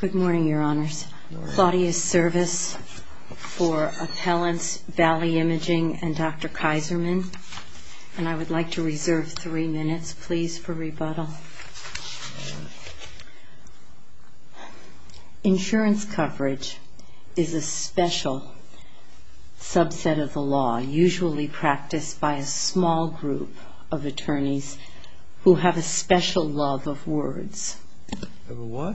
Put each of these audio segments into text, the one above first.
Good morning, Your Honors. Claudia's service for Appellants Valley Imaging and Dr. Kaiserman. And I would like to reserve three minutes, please, for rebuttal. Insurance coverage is a special subset of the law, usually practiced by a small group of attorneys who have a special love of words. Of a what?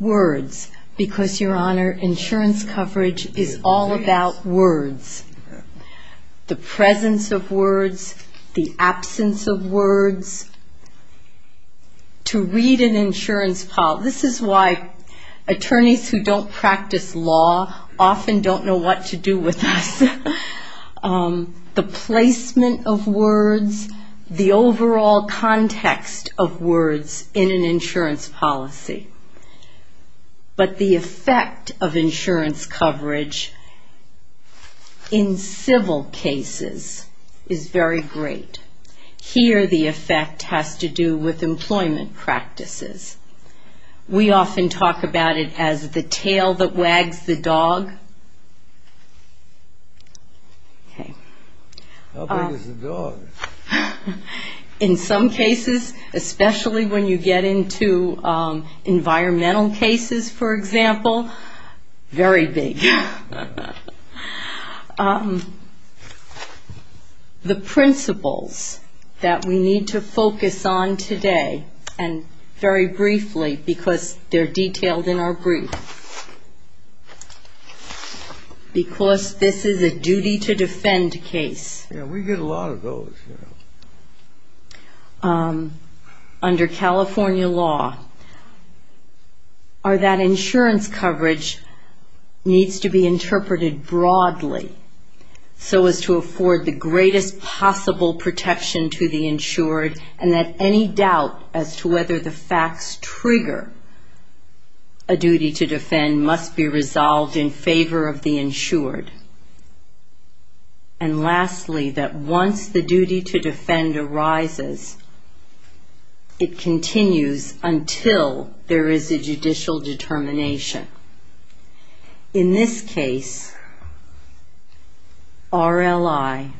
Words, because, Your Honor, insurance coverage is all about words. The presence of words, the absence of words. To read an insurance file, this is why attorneys who don't practice law often don't know what to do with us. in an insurance policy. But the effect of insurance coverage in civil cases is very great. Here the effect has to do with employment practices. We often talk about it as the tail that wags the dog. Okay. How big is the dog? In some cases, especially when you get into environmental cases, for example, very big. The principles that we need to focus on today, and very briefly, because they're detailed in our brief, because this is a duty-to-defend case. Yeah, we get a lot of those. Under California law, that insurance coverage needs to be interpreted broadly so as to afford the greatest possible protection to the insured and that any doubt as to whether the facts trigger a duty-to-defend must be resolved in favor of the insured. And lastly, that once the duty-to-defend arises, it continues until there is a judicial determination. In this case, RLI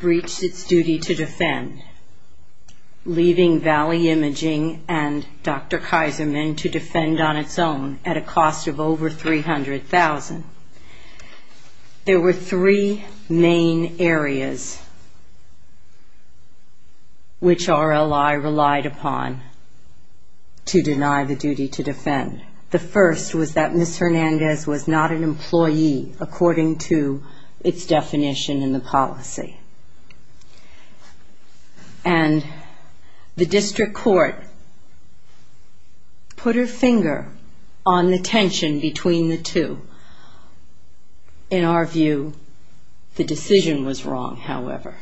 breached its duty-to-defend, leaving Valley Imaging and Dr. Kaiserman to defend on its own at a cost of over $300,000. There were three main areas which RLI relied upon to deny the duty-to-defend. The first was that Ms. Hernandez was not an employee according to its definition in the policy. And the district court put her finger on the tension between the two. In our view, the decision was wrong, however.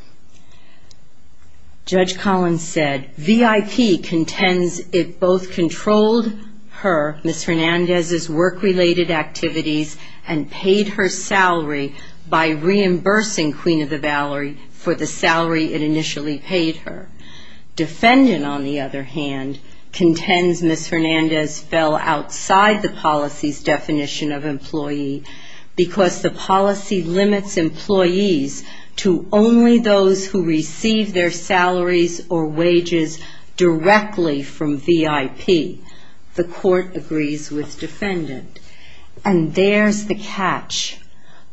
Judge Collins said, V.I.P. contends it both controlled her, Ms. Hernandez's work-related activities and paid her salary by reimbursing Queen of the Valerie for the salary it initially paid her. Defendant, on the other hand, contends Ms. Hernandez fell outside the policy's definition of employee because the policy limits employees to only those who receive their salaries or wages directly from V.I.P. The court agrees with defendant. And there's the catch.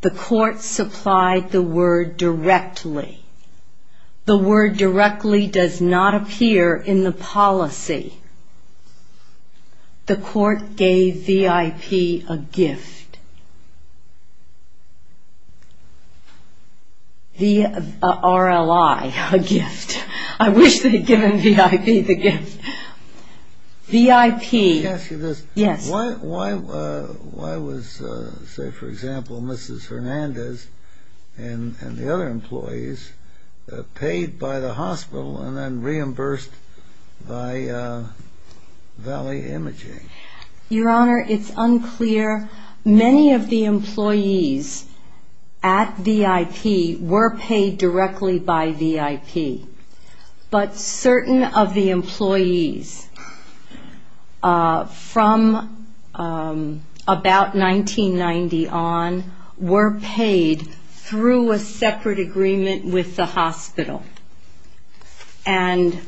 The court supplied the word directly. The word directly does not appear in the policy. The court gave V.I.P. a gift. The RLI a gift. I wish they'd given V.I.P. the gift. V.I.P. Let me ask you this. Yes. Why was, say, for example, Mrs. Hernandez and the other employees paid by the hospital and then reimbursed by Valley Imaging? Your Honor, it's unclear. Many of the employees at V.I.P. were paid directly by V.I.P. But certain of the employees from about 1990 on were paid through a separate agreement with the hospital. And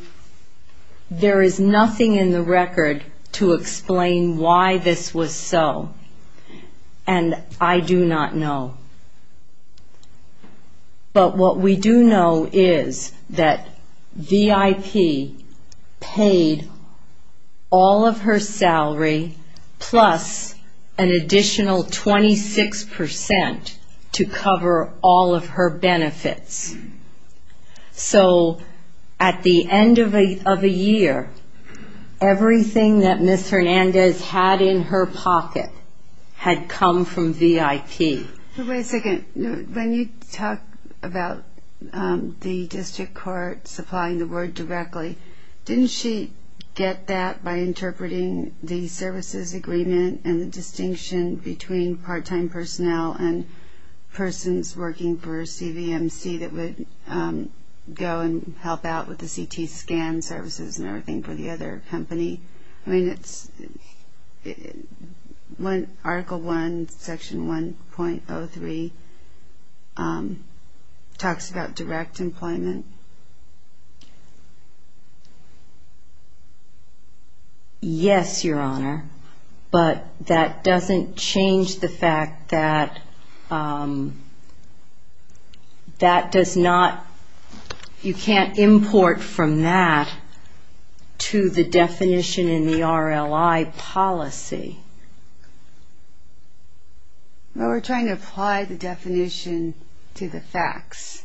there is nothing in the record to explain why this was so, and I do not know. But what we do know is that V.I.P. paid all of her salary plus an additional 26% to cover all of her benefits. So at the end of a year, everything that Ms. Hernandez had in her pocket had come from V.I.P. Wait a second. When you talk about the district court supplying the word directly, didn't she get that by interpreting the services agreement and the distinction between part-time personnel and persons working for CVMC that would go and help out with the CT scan services and everything for the other company? I mean, it's Article 1, Section 1.03 talks about direct employment. Yes, Your Honor. But that doesn't change the fact that that does not, you can't import from that to the definition in the RLI policy. Well, we're trying to apply the definition to the facts,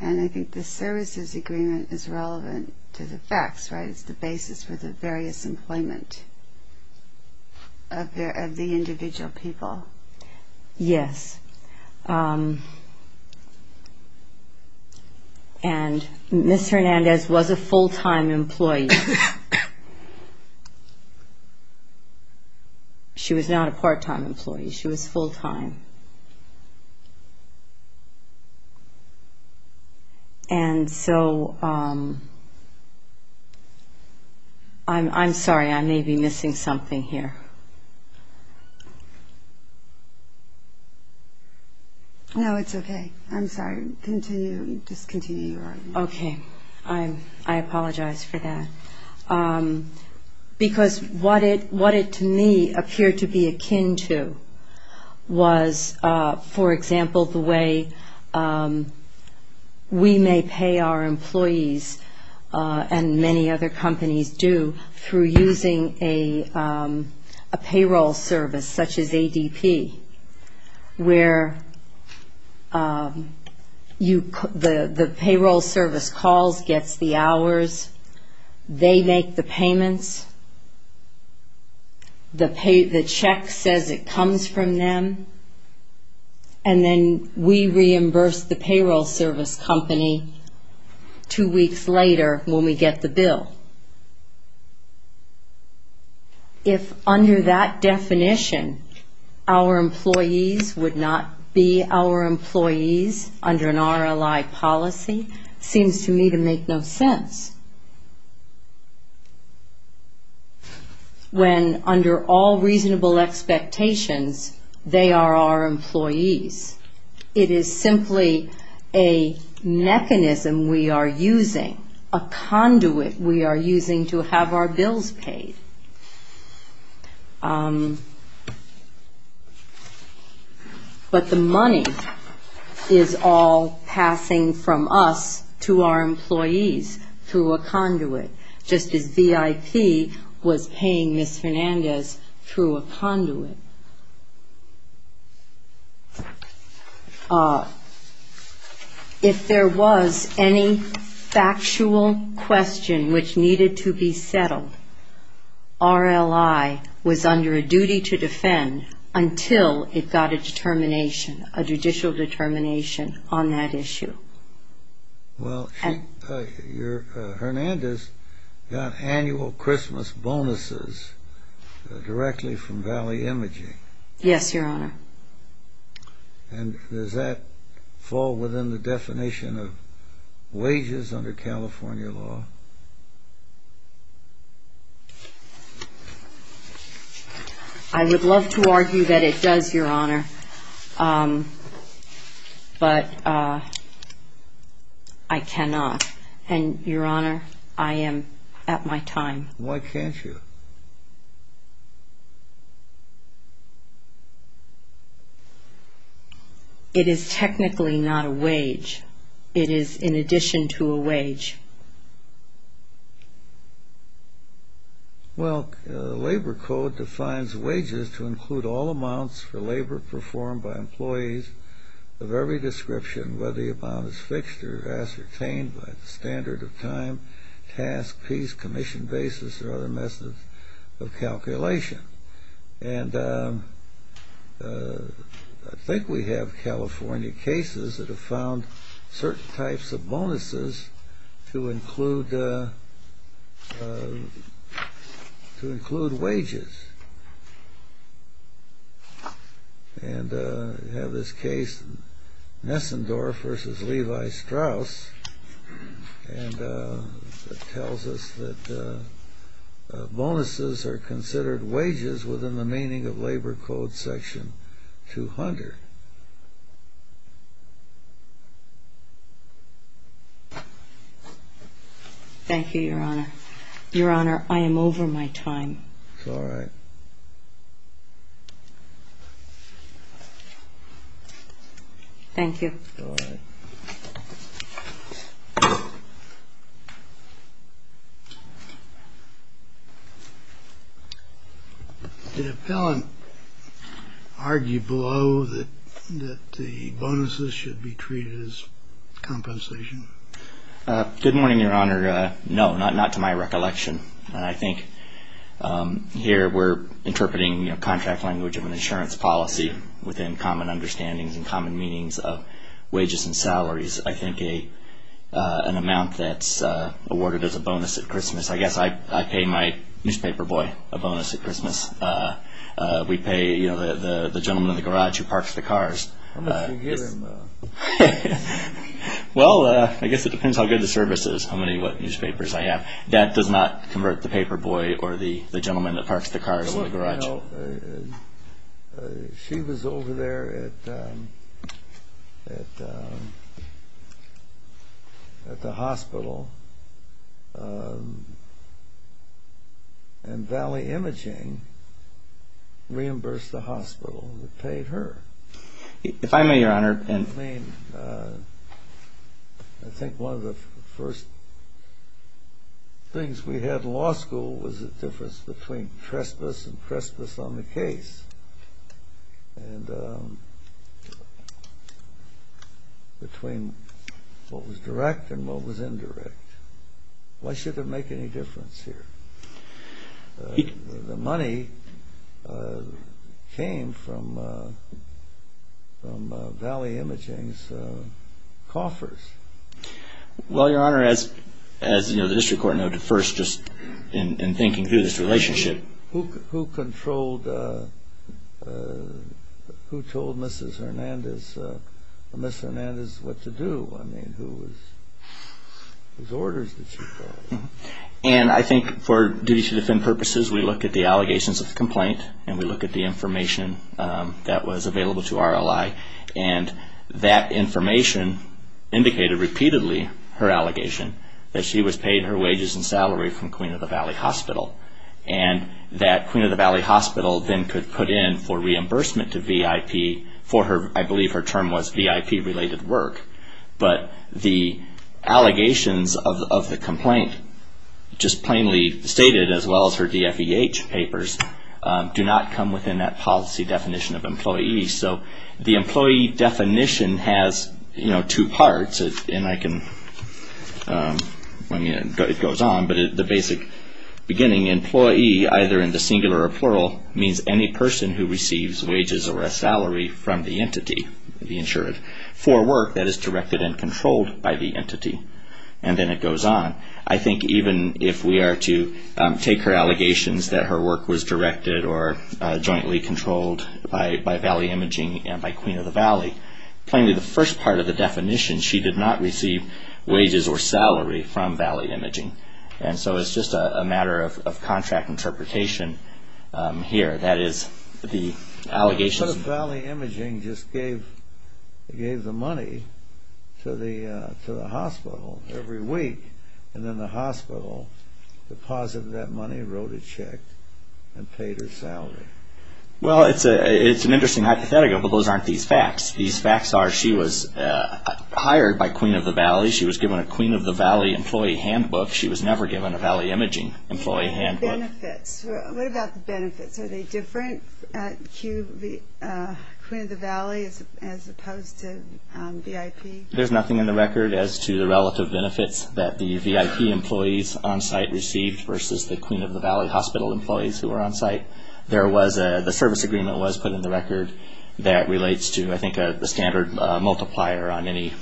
and I think the services agreement is relevant to the facts, right? It's the basis for the various employment of the individual people. Yes. And Ms. Hernandez was a full-time employee. She was not a part-time employee. She was full-time. And so I'm sorry, I may be missing something here. No, it's okay. I'm sorry. Continue. Just continue your argument. Okay. I apologize for that. Because what it, to me, appeared to be akin to was, for example, the way we may pay our employees, and many other companies do, through using a payroll service, such as ADP, where the payroll service calls, gets the hours. They make the payments. The check says it comes from them, and then we reimburse the payroll service company two weeks later when we get the bill. If under that definition, our employees would not be our employees under an RLI policy, it seems to me to make no sense. When under all reasonable expectations, they are our employees. It is simply a mechanism we are using, a conduit we are using to have our bills paid. But the money is all passing from us to our employees through a conduit, just as VIP was paying Ms. Fernandez through a conduit. If there was any factual question which needed to be settled, RLI was under a duty to defend until it got a determination, a judicial determination on that issue. Well, Fernandez got annual Christmas bonuses directly from Valley Imaging. Yes, Your Honor. And does that fall within the definition of wages under California law? I would love to argue that it does, Your Honor, but I cannot. And, Your Honor, I am at my time. Why can't you? It is technically not a wage. It is in addition to a wage. Well, Labor Code defines wages to include all amounts for labor performed by employees of every description, whether the amount is fixed or ascertained by the standard of time, task, piece, commission, basis, or other methods of calculation. And I think we have California cases that have found certain types of bonuses to include wages. And we have this case, Nessendorf v. Levi-Strauss, that tells us that bonuses are considered wages within the meaning of Labor Code section 200. Thank you, Your Honor. Your Honor, I am over my time. It's all right. It's all right. Thank you. Did Appellant argue below that the bonuses should be treated as compensation? Good morning, Your Honor. No, not to my recollection. And I think here we're interpreting a contract language of an insurance policy which is, I think, an amount that's awarded as a bonus at Christmas. I guess I pay my newspaper boy a bonus at Christmas. We pay the gentleman in the garage who parks the cars. How much do you give him? Well, I guess it depends how good the service is, how many newspapers I have. That does not convert the paper boy or the gentleman that parks the cars in the garage. You know, she was over there at the hospital, and Valley Imaging reimbursed the hospital that paid her. Your Honor, I think one of the first things we had in law school was the difference between trespass and trespass on the case and between what was direct and what was indirect. Why should it make any difference here? The money came from Valley Imaging's coffers. Well, Your Honor, as the district court noted first just in thinking through this relationship. Who told Mrs. Hernandez what to do? I mean, whose orders did she follow? And I think for duty to defend purposes, we look at the allegations of the complaint and we look at the information that was available to our ally. And that information indicated repeatedly her allegation that she was paid her wages and salary from Queen of the Valley Hospital. And that Queen of the Valley Hospital then could put in for reimbursement to VIP for her, I believe her term was VIP-related work. But the allegations of the complaint just plainly stated, as well as her DFEH papers, do not come within that policy definition of employee. So the employee definition has, you know, two parts. And I can, I mean, it goes on. But the basic beginning, employee, either in the singular or plural, means any person who receives wages or a salary from the entity, the insured, for work that is directed and controlled by the entity. And then it goes on. I think even if we are to take her allegations that her work was directed or jointly controlled by Valley Imaging and by Queen of the Valley, plainly the first part of the definition, she did not receive wages or salary from Valley Imaging. And so it's just a matter of contract interpretation here. What if Valley Imaging just gave the money to the hospital every week and then the hospital deposited that money, wrote a check, and paid her salary? Well, it's an interesting hypothetical, but those aren't these facts. These facts are she was hired by Queen of the Valley. She was given a Queen of the Valley employee handbook. She was never given a Valley Imaging employee handbook. Benefits. What about the benefits? Are they different at Queen of the Valley as opposed to VIP? There's nothing in the record as to the relative benefits that the VIP employees on site received versus the Queen of the Valley hospital employees who were on site. The service agreement was put in the record that relates to, I think, the standard multiplier on any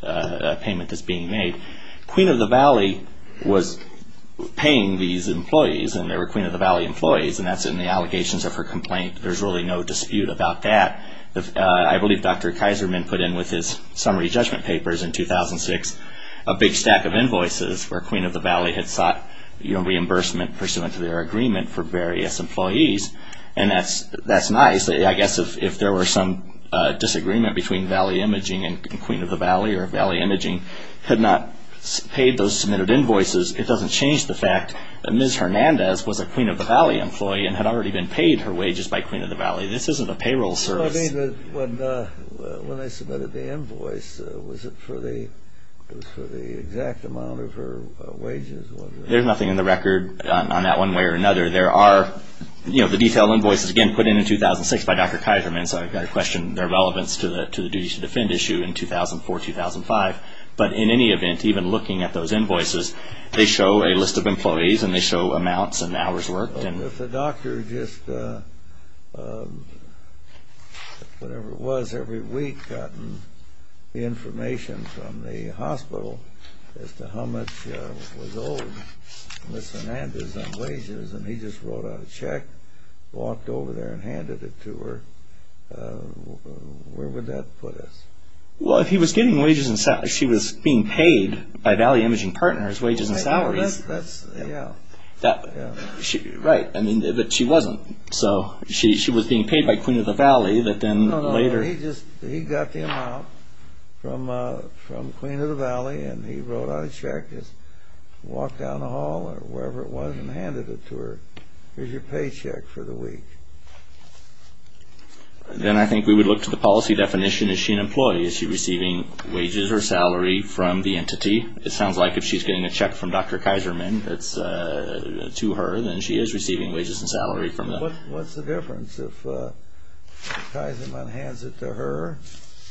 payment that's being made. Queen of the Valley was paying these employees, and they were Queen of the Valley employees, and that's in the allegations of her complaint. There's really no dispute about that. I believe Dr. Kaiserman put in with his summary judgment papers in 2006 a big stack of invoices where Queen of the Valley had sought reimbursement pursuant to their agreement for various employees, and that's nice. I guess if there were some disagreement between Valley Imaging and Queen of the Valley or Valley Imaging had not paid those submitted invoices, it doesn't change the fact that Ms. Hernandez was a Queen of the Valley employee and had already been paid her wages by Queen of the Valley. This isn't a payroll service. When they submitted the invoice, was it for the exact amount of her wages? There's nothing in the record on that one way or another. There are the detailed invoices, again, put in in 2006 by Dr. Kaiserman, so I question their relevance to the duty to defend issue in 2004-2005. But in any event, even looking at those invoices, they show a list of employees and they show amounts and hours worked. The doctor just, whatever it was, every week gotten information from the hospital as to how much was owed Ms. Hernandez on wages, and he just wrote out a check, walked over there and handed it to her. Where would that put us? Well, if he was getting wages and salaries, she was being paid by Valley Imaging Partners wages and salaries. That's, yeah. Right, but she wasn't. She was being paid by Queen of the Valley, but then later... No, no, he just got the amount from Queen of the Valley, and he wrote out a check, just walked down the hall or wherever it was, and handed it to her as your paycheck for the week. Then I think we would look to the policy definition. Is she an employee? Is she receiving wages or salary from the entity? It sounds like if she's getting a check from Dr. Kaiserman to her, then she is receiving wages and salary from them. What's the difference if Kaiserman hands it to her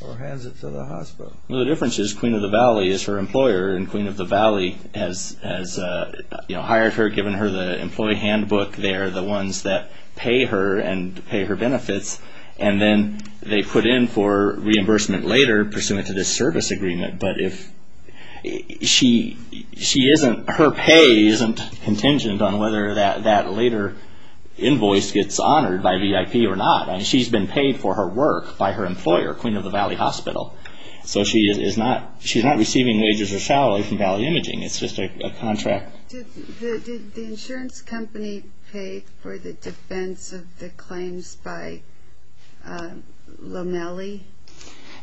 or hands it to the hospital? Well, the difference is Queen of the Valley is her employer, and Queen of the Valley has hired her, given her the employee handbook there, the ones that pay her and pay her benefits, and then they put in for reimbursement later pursuant to this service agreement. But her pay isn't contingent on whether that later invoice gets honored by VIP or not. She's been paid for her work by her employer, Queen of the Valley Hospital. So she's not receiving wages or salary from Valley Imaging. It's just a contract. Did the insurance company pay for the defense of the claims by Lomeli?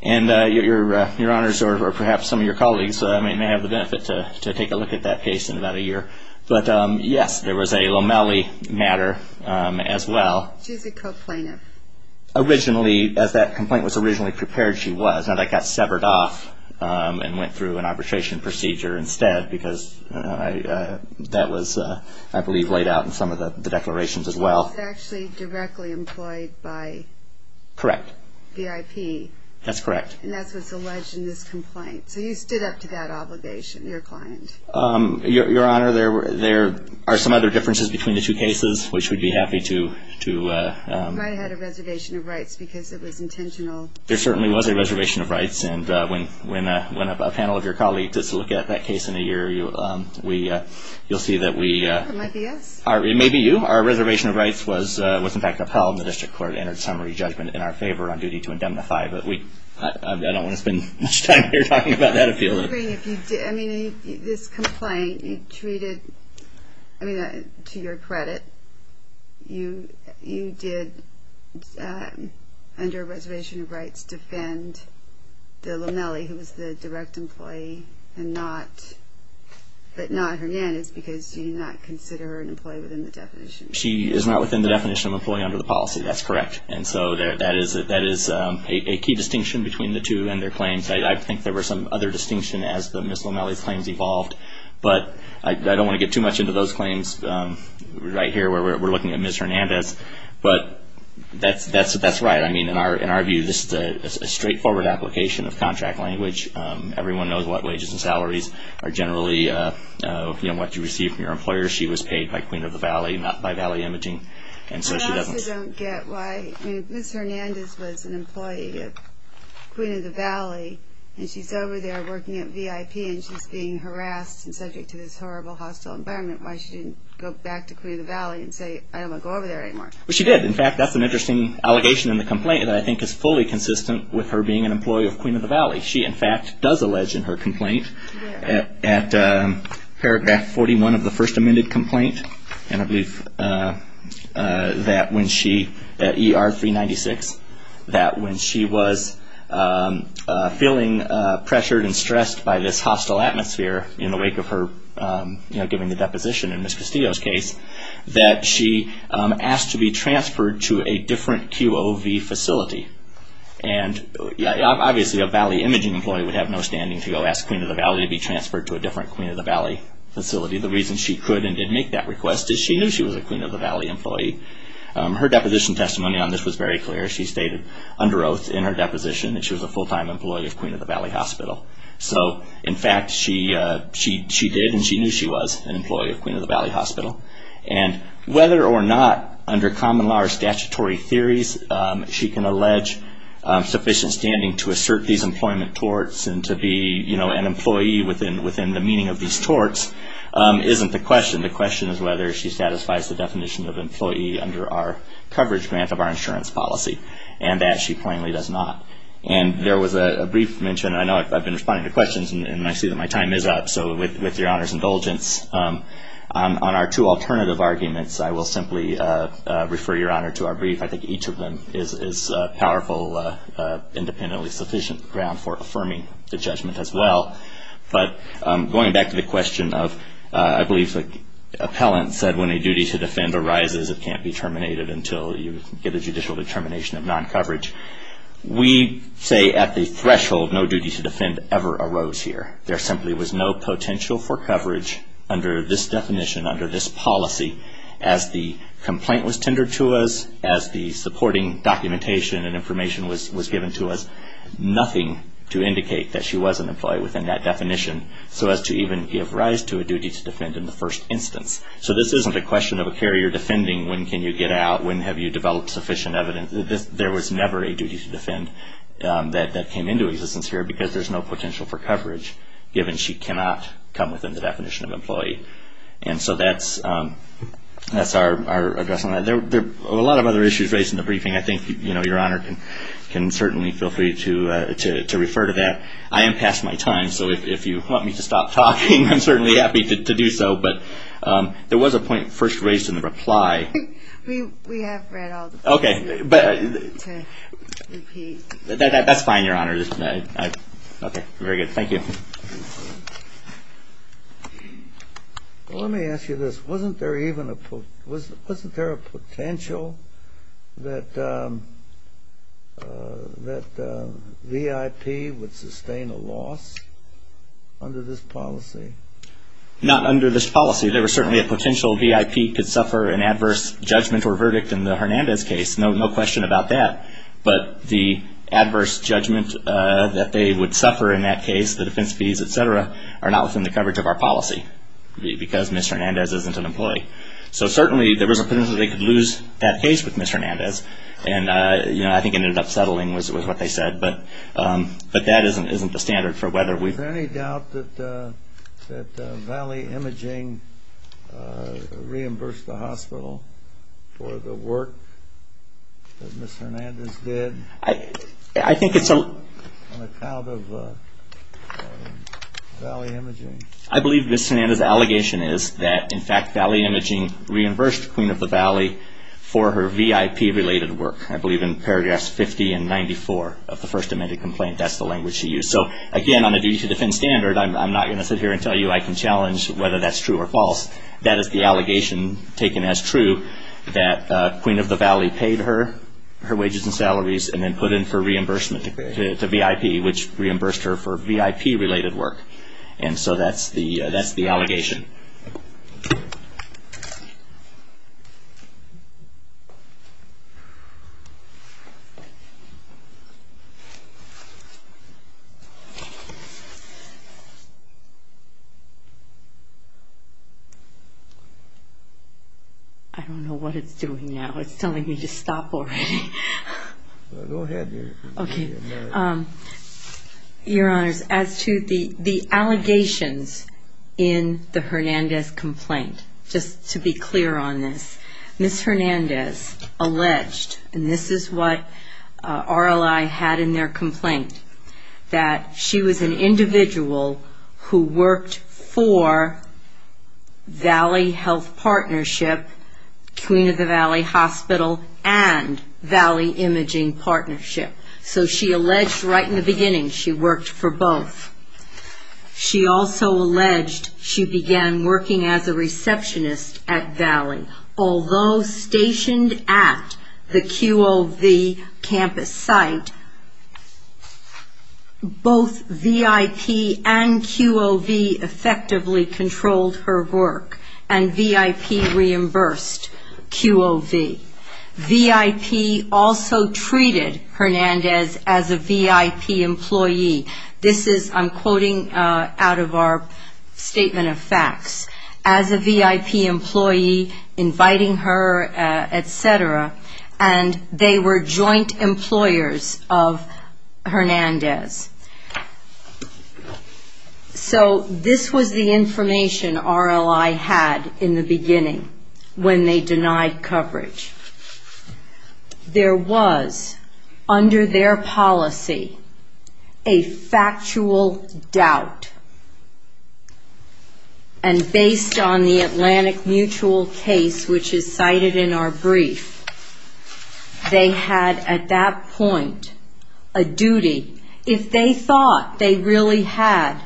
Your Honors, or perhaps some of your colleagues, may have the benefit to take a look at that case in about a year. But, yes, there was a Lomeli matter as well. She's a co-plaintiff. As that complaint was originally prepared, she was. Now that got severed off and went through an arbitration procedure instead because that was, I believe, laid out in some of the declarations as well. She's actually directly employed by VIP. That's correct. And that's what's alleged in this complaint. So you stood up to that obligation, your client. Your Honor, there are some other differences between the two cases, which we'd be happy to… You might have had a reservation of rights because it was intentional. There certainly was a reservation of rights. And when a panel of your colleagues gets to look at that case in a year, you'll see that we… It might be us. It may be you. Our reservation of rights was, in fact, upheld, and the district court entered a summary judgment in our favor on duty to indemnify. But I don't want to spend much time here talking about that appeal. I mean, this complaint, you treated… I mean, to your credit, you did, under a reservation of rights, defend the Lomeli, who was the direct employee, but not Hernandez because you do not consider her an employee within the definition. She is not within the definition of an employee under the policy. That's correct. And so that is a key distinction between the two and their claims. I think there were some other distinctions as Ms. Lomeli's claims evolved, but I don't want to get too much into those claims right here. We're looking at Ms. Hernandez. But that's right. I mean, in our view, this is a straightforward application of contract language. Everyone knows what wages and salaries are generally what you receive from your employer. She was paid by Queen of the Valley, not by Valley Imaging, and so she doesn't… I mean, Ms. Hernandez was an employee of Queen of the Valley, and she's over there working at VIP, and she's being harassed and subject to this horrible, hostile environment. Why should she go back to Queen of the Valley and say, I don't want to go over there anymore? Well, she did. In fact, that's an interesting allegation in the complaint that I think is fully consistent with her being an employee of Queen of the Valley. She, in fact, does allege in her complaint at paragraph 41 of the first amended complaint, and I believe that when she, at ER 396, that when she was feeling pressured and stressed by this hostile atmosphere in the wake of her giving the deposition in Ms. Castillo's case, that she asked to be transferred to a different QOV facility. And obviously, a Valley Imaging employee would have no standing to go ask Queen of the Valley to be transferred to a different Queen of the Valley facility. The reason she could and did make that request is she knew she was a Queen of the Valley employee. Her deposition testimony on this was very clear. She stated under oath in her deposition that she was a full-time employee of Queen of the Valley Hospital. So, in fact, she did and she knew she was an employee of Queen of the Valley Hospital. And whether or not, under common law or statutory theories, she can allege sufficient standing to assert these employment torts and to be an employee within the meaning of these torts isn't the question. The question is whether she satisfies the definition of employee under our coverage grant of our insurance policy, and that she plainly does not. And there was a brief mention, and I know I've been responding to questions, and I see that my time is up, so with Your Honor's indulgence, on our two alternative arguments, I will simply refer Your Honor to our brief. I think each of them is powerful, independently sufficient ground for affirming the judgment as well. But going back to the question of, I believe the appellant said, when a duty to defend arises it can't be terminated until you get a judicial determination of non-coverage. We say at the threshold no duty to defend ever arose here. There simply was no potential for coverage under this definition, under this policy, as the complaint was tendered to us, as the supporting documentation and information was given to us. Nothing to indicate that she was an employee within that definition, so as to even give rise to a duty to defend in the first instance. So this isn't a question of a carrier defending when can you get out, when have you developed sufficient evidence. There was never a duty to defend that came into existence here because there's no potential for coverage, given she cannot come within the definition of employee. And so that's our address on that. There are a lot of other issues raised in the briefing. I think, you know, Your Honor can certainly feel free to refer to that. I am past my time, so if you want me to stop talking, I'm certainly happy to do so. But there was a point first raised in the reply. We have read all the points. Okay. To repeat. That's fine, Your Honor. Okay, very good. Thank you. Let me ask you this. Wasn't there a potential that VIP would sustain a loss under this policy? Not under this policy. There was certainly a potential VIP could suffer an adverse judgment or verdict in the Hernandez case. No question about that. But the adverse judgment that they would suffer in that case, the defense fees, et cetera, are not within the coverage of our policy because Ms. Hernandez isn't an employee. So certainly there was a potential they could lose that case with Ms. Hernandez. And, you know, I think it ended up settling, was what they said. But that isn't the standard for whether we've. Is there any doubt that Valley Imaging reimbursed the hospital for the work that Ms. Hernandez did? I think it's a. On account of Valley Imaging. I believe Ms. Hernandez' allegation is that, in fact, Valley Imaging reimbursed Queen of the Valley for her VIP-related work. I believe in paragraphs 50 and 94 of the first amended complaint, that's the language she used. So, again, on a duty to defend standard, I'm not going to sit here and tell you I can challenge whether that's true or false. That is the allegation taken as true, that Queen of the Valley paid her, her wages and salaries, and then put in for reimbursement to VIP, which reimbursed her for VIP-related work. And so that's the allegation. I don't know what it's doing now. It's telling me to stop already. Go ahead. Okay. Your Honors, as to the allegations in the Hernandez complaint, just to be clear on this, Ms. Hernandez alleged, and this is what RLI had in their complaint, that she was an individual who worked for Valley Health Partnership, Queen of the Valley Hospital, and Valley Imaging Partnership. So she alleged right in the beginning she worked for both. She also alleged she began working as a receptionist at Valley. Although stationed at the QOV campus site, both VIP and QOV effectively controlled her work, and VIP reimbursed QOV. VIP also treated Hernandez as a VIP employee. This is, I'm quoting out of our statement of facts, as a VIP employee, inviting her, et cetera, and they were joint employers of Hernandez. So this was the information RLI had in the beginning when they denied coverage. There was, under their policy, a factual doubt. And based on the Atlantic Mutual case, which is cited in our brief, they had at that point a duty. If they thought they really had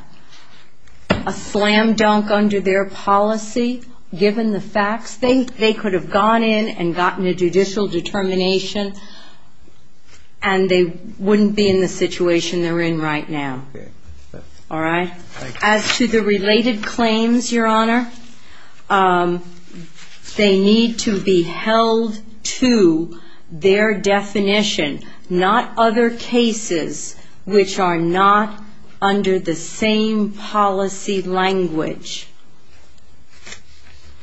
a slam dunk under their policy, given the facts, they could have gone in and gotten a judicial determination, and they wouldn't be in the situation they're in right now. All right? As to the related claims, Your Honor, they need to be held to their definition, not other cases which are not under the same policy language.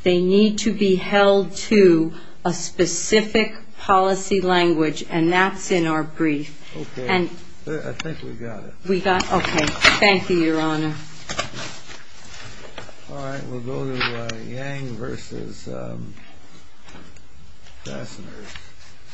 They need to be held to a specific policy language, and that's in our brief. Okay. I think we got it. We got it? Okay. Thank you, Your Honor. All right. We'll go to Yang v. Fasteners.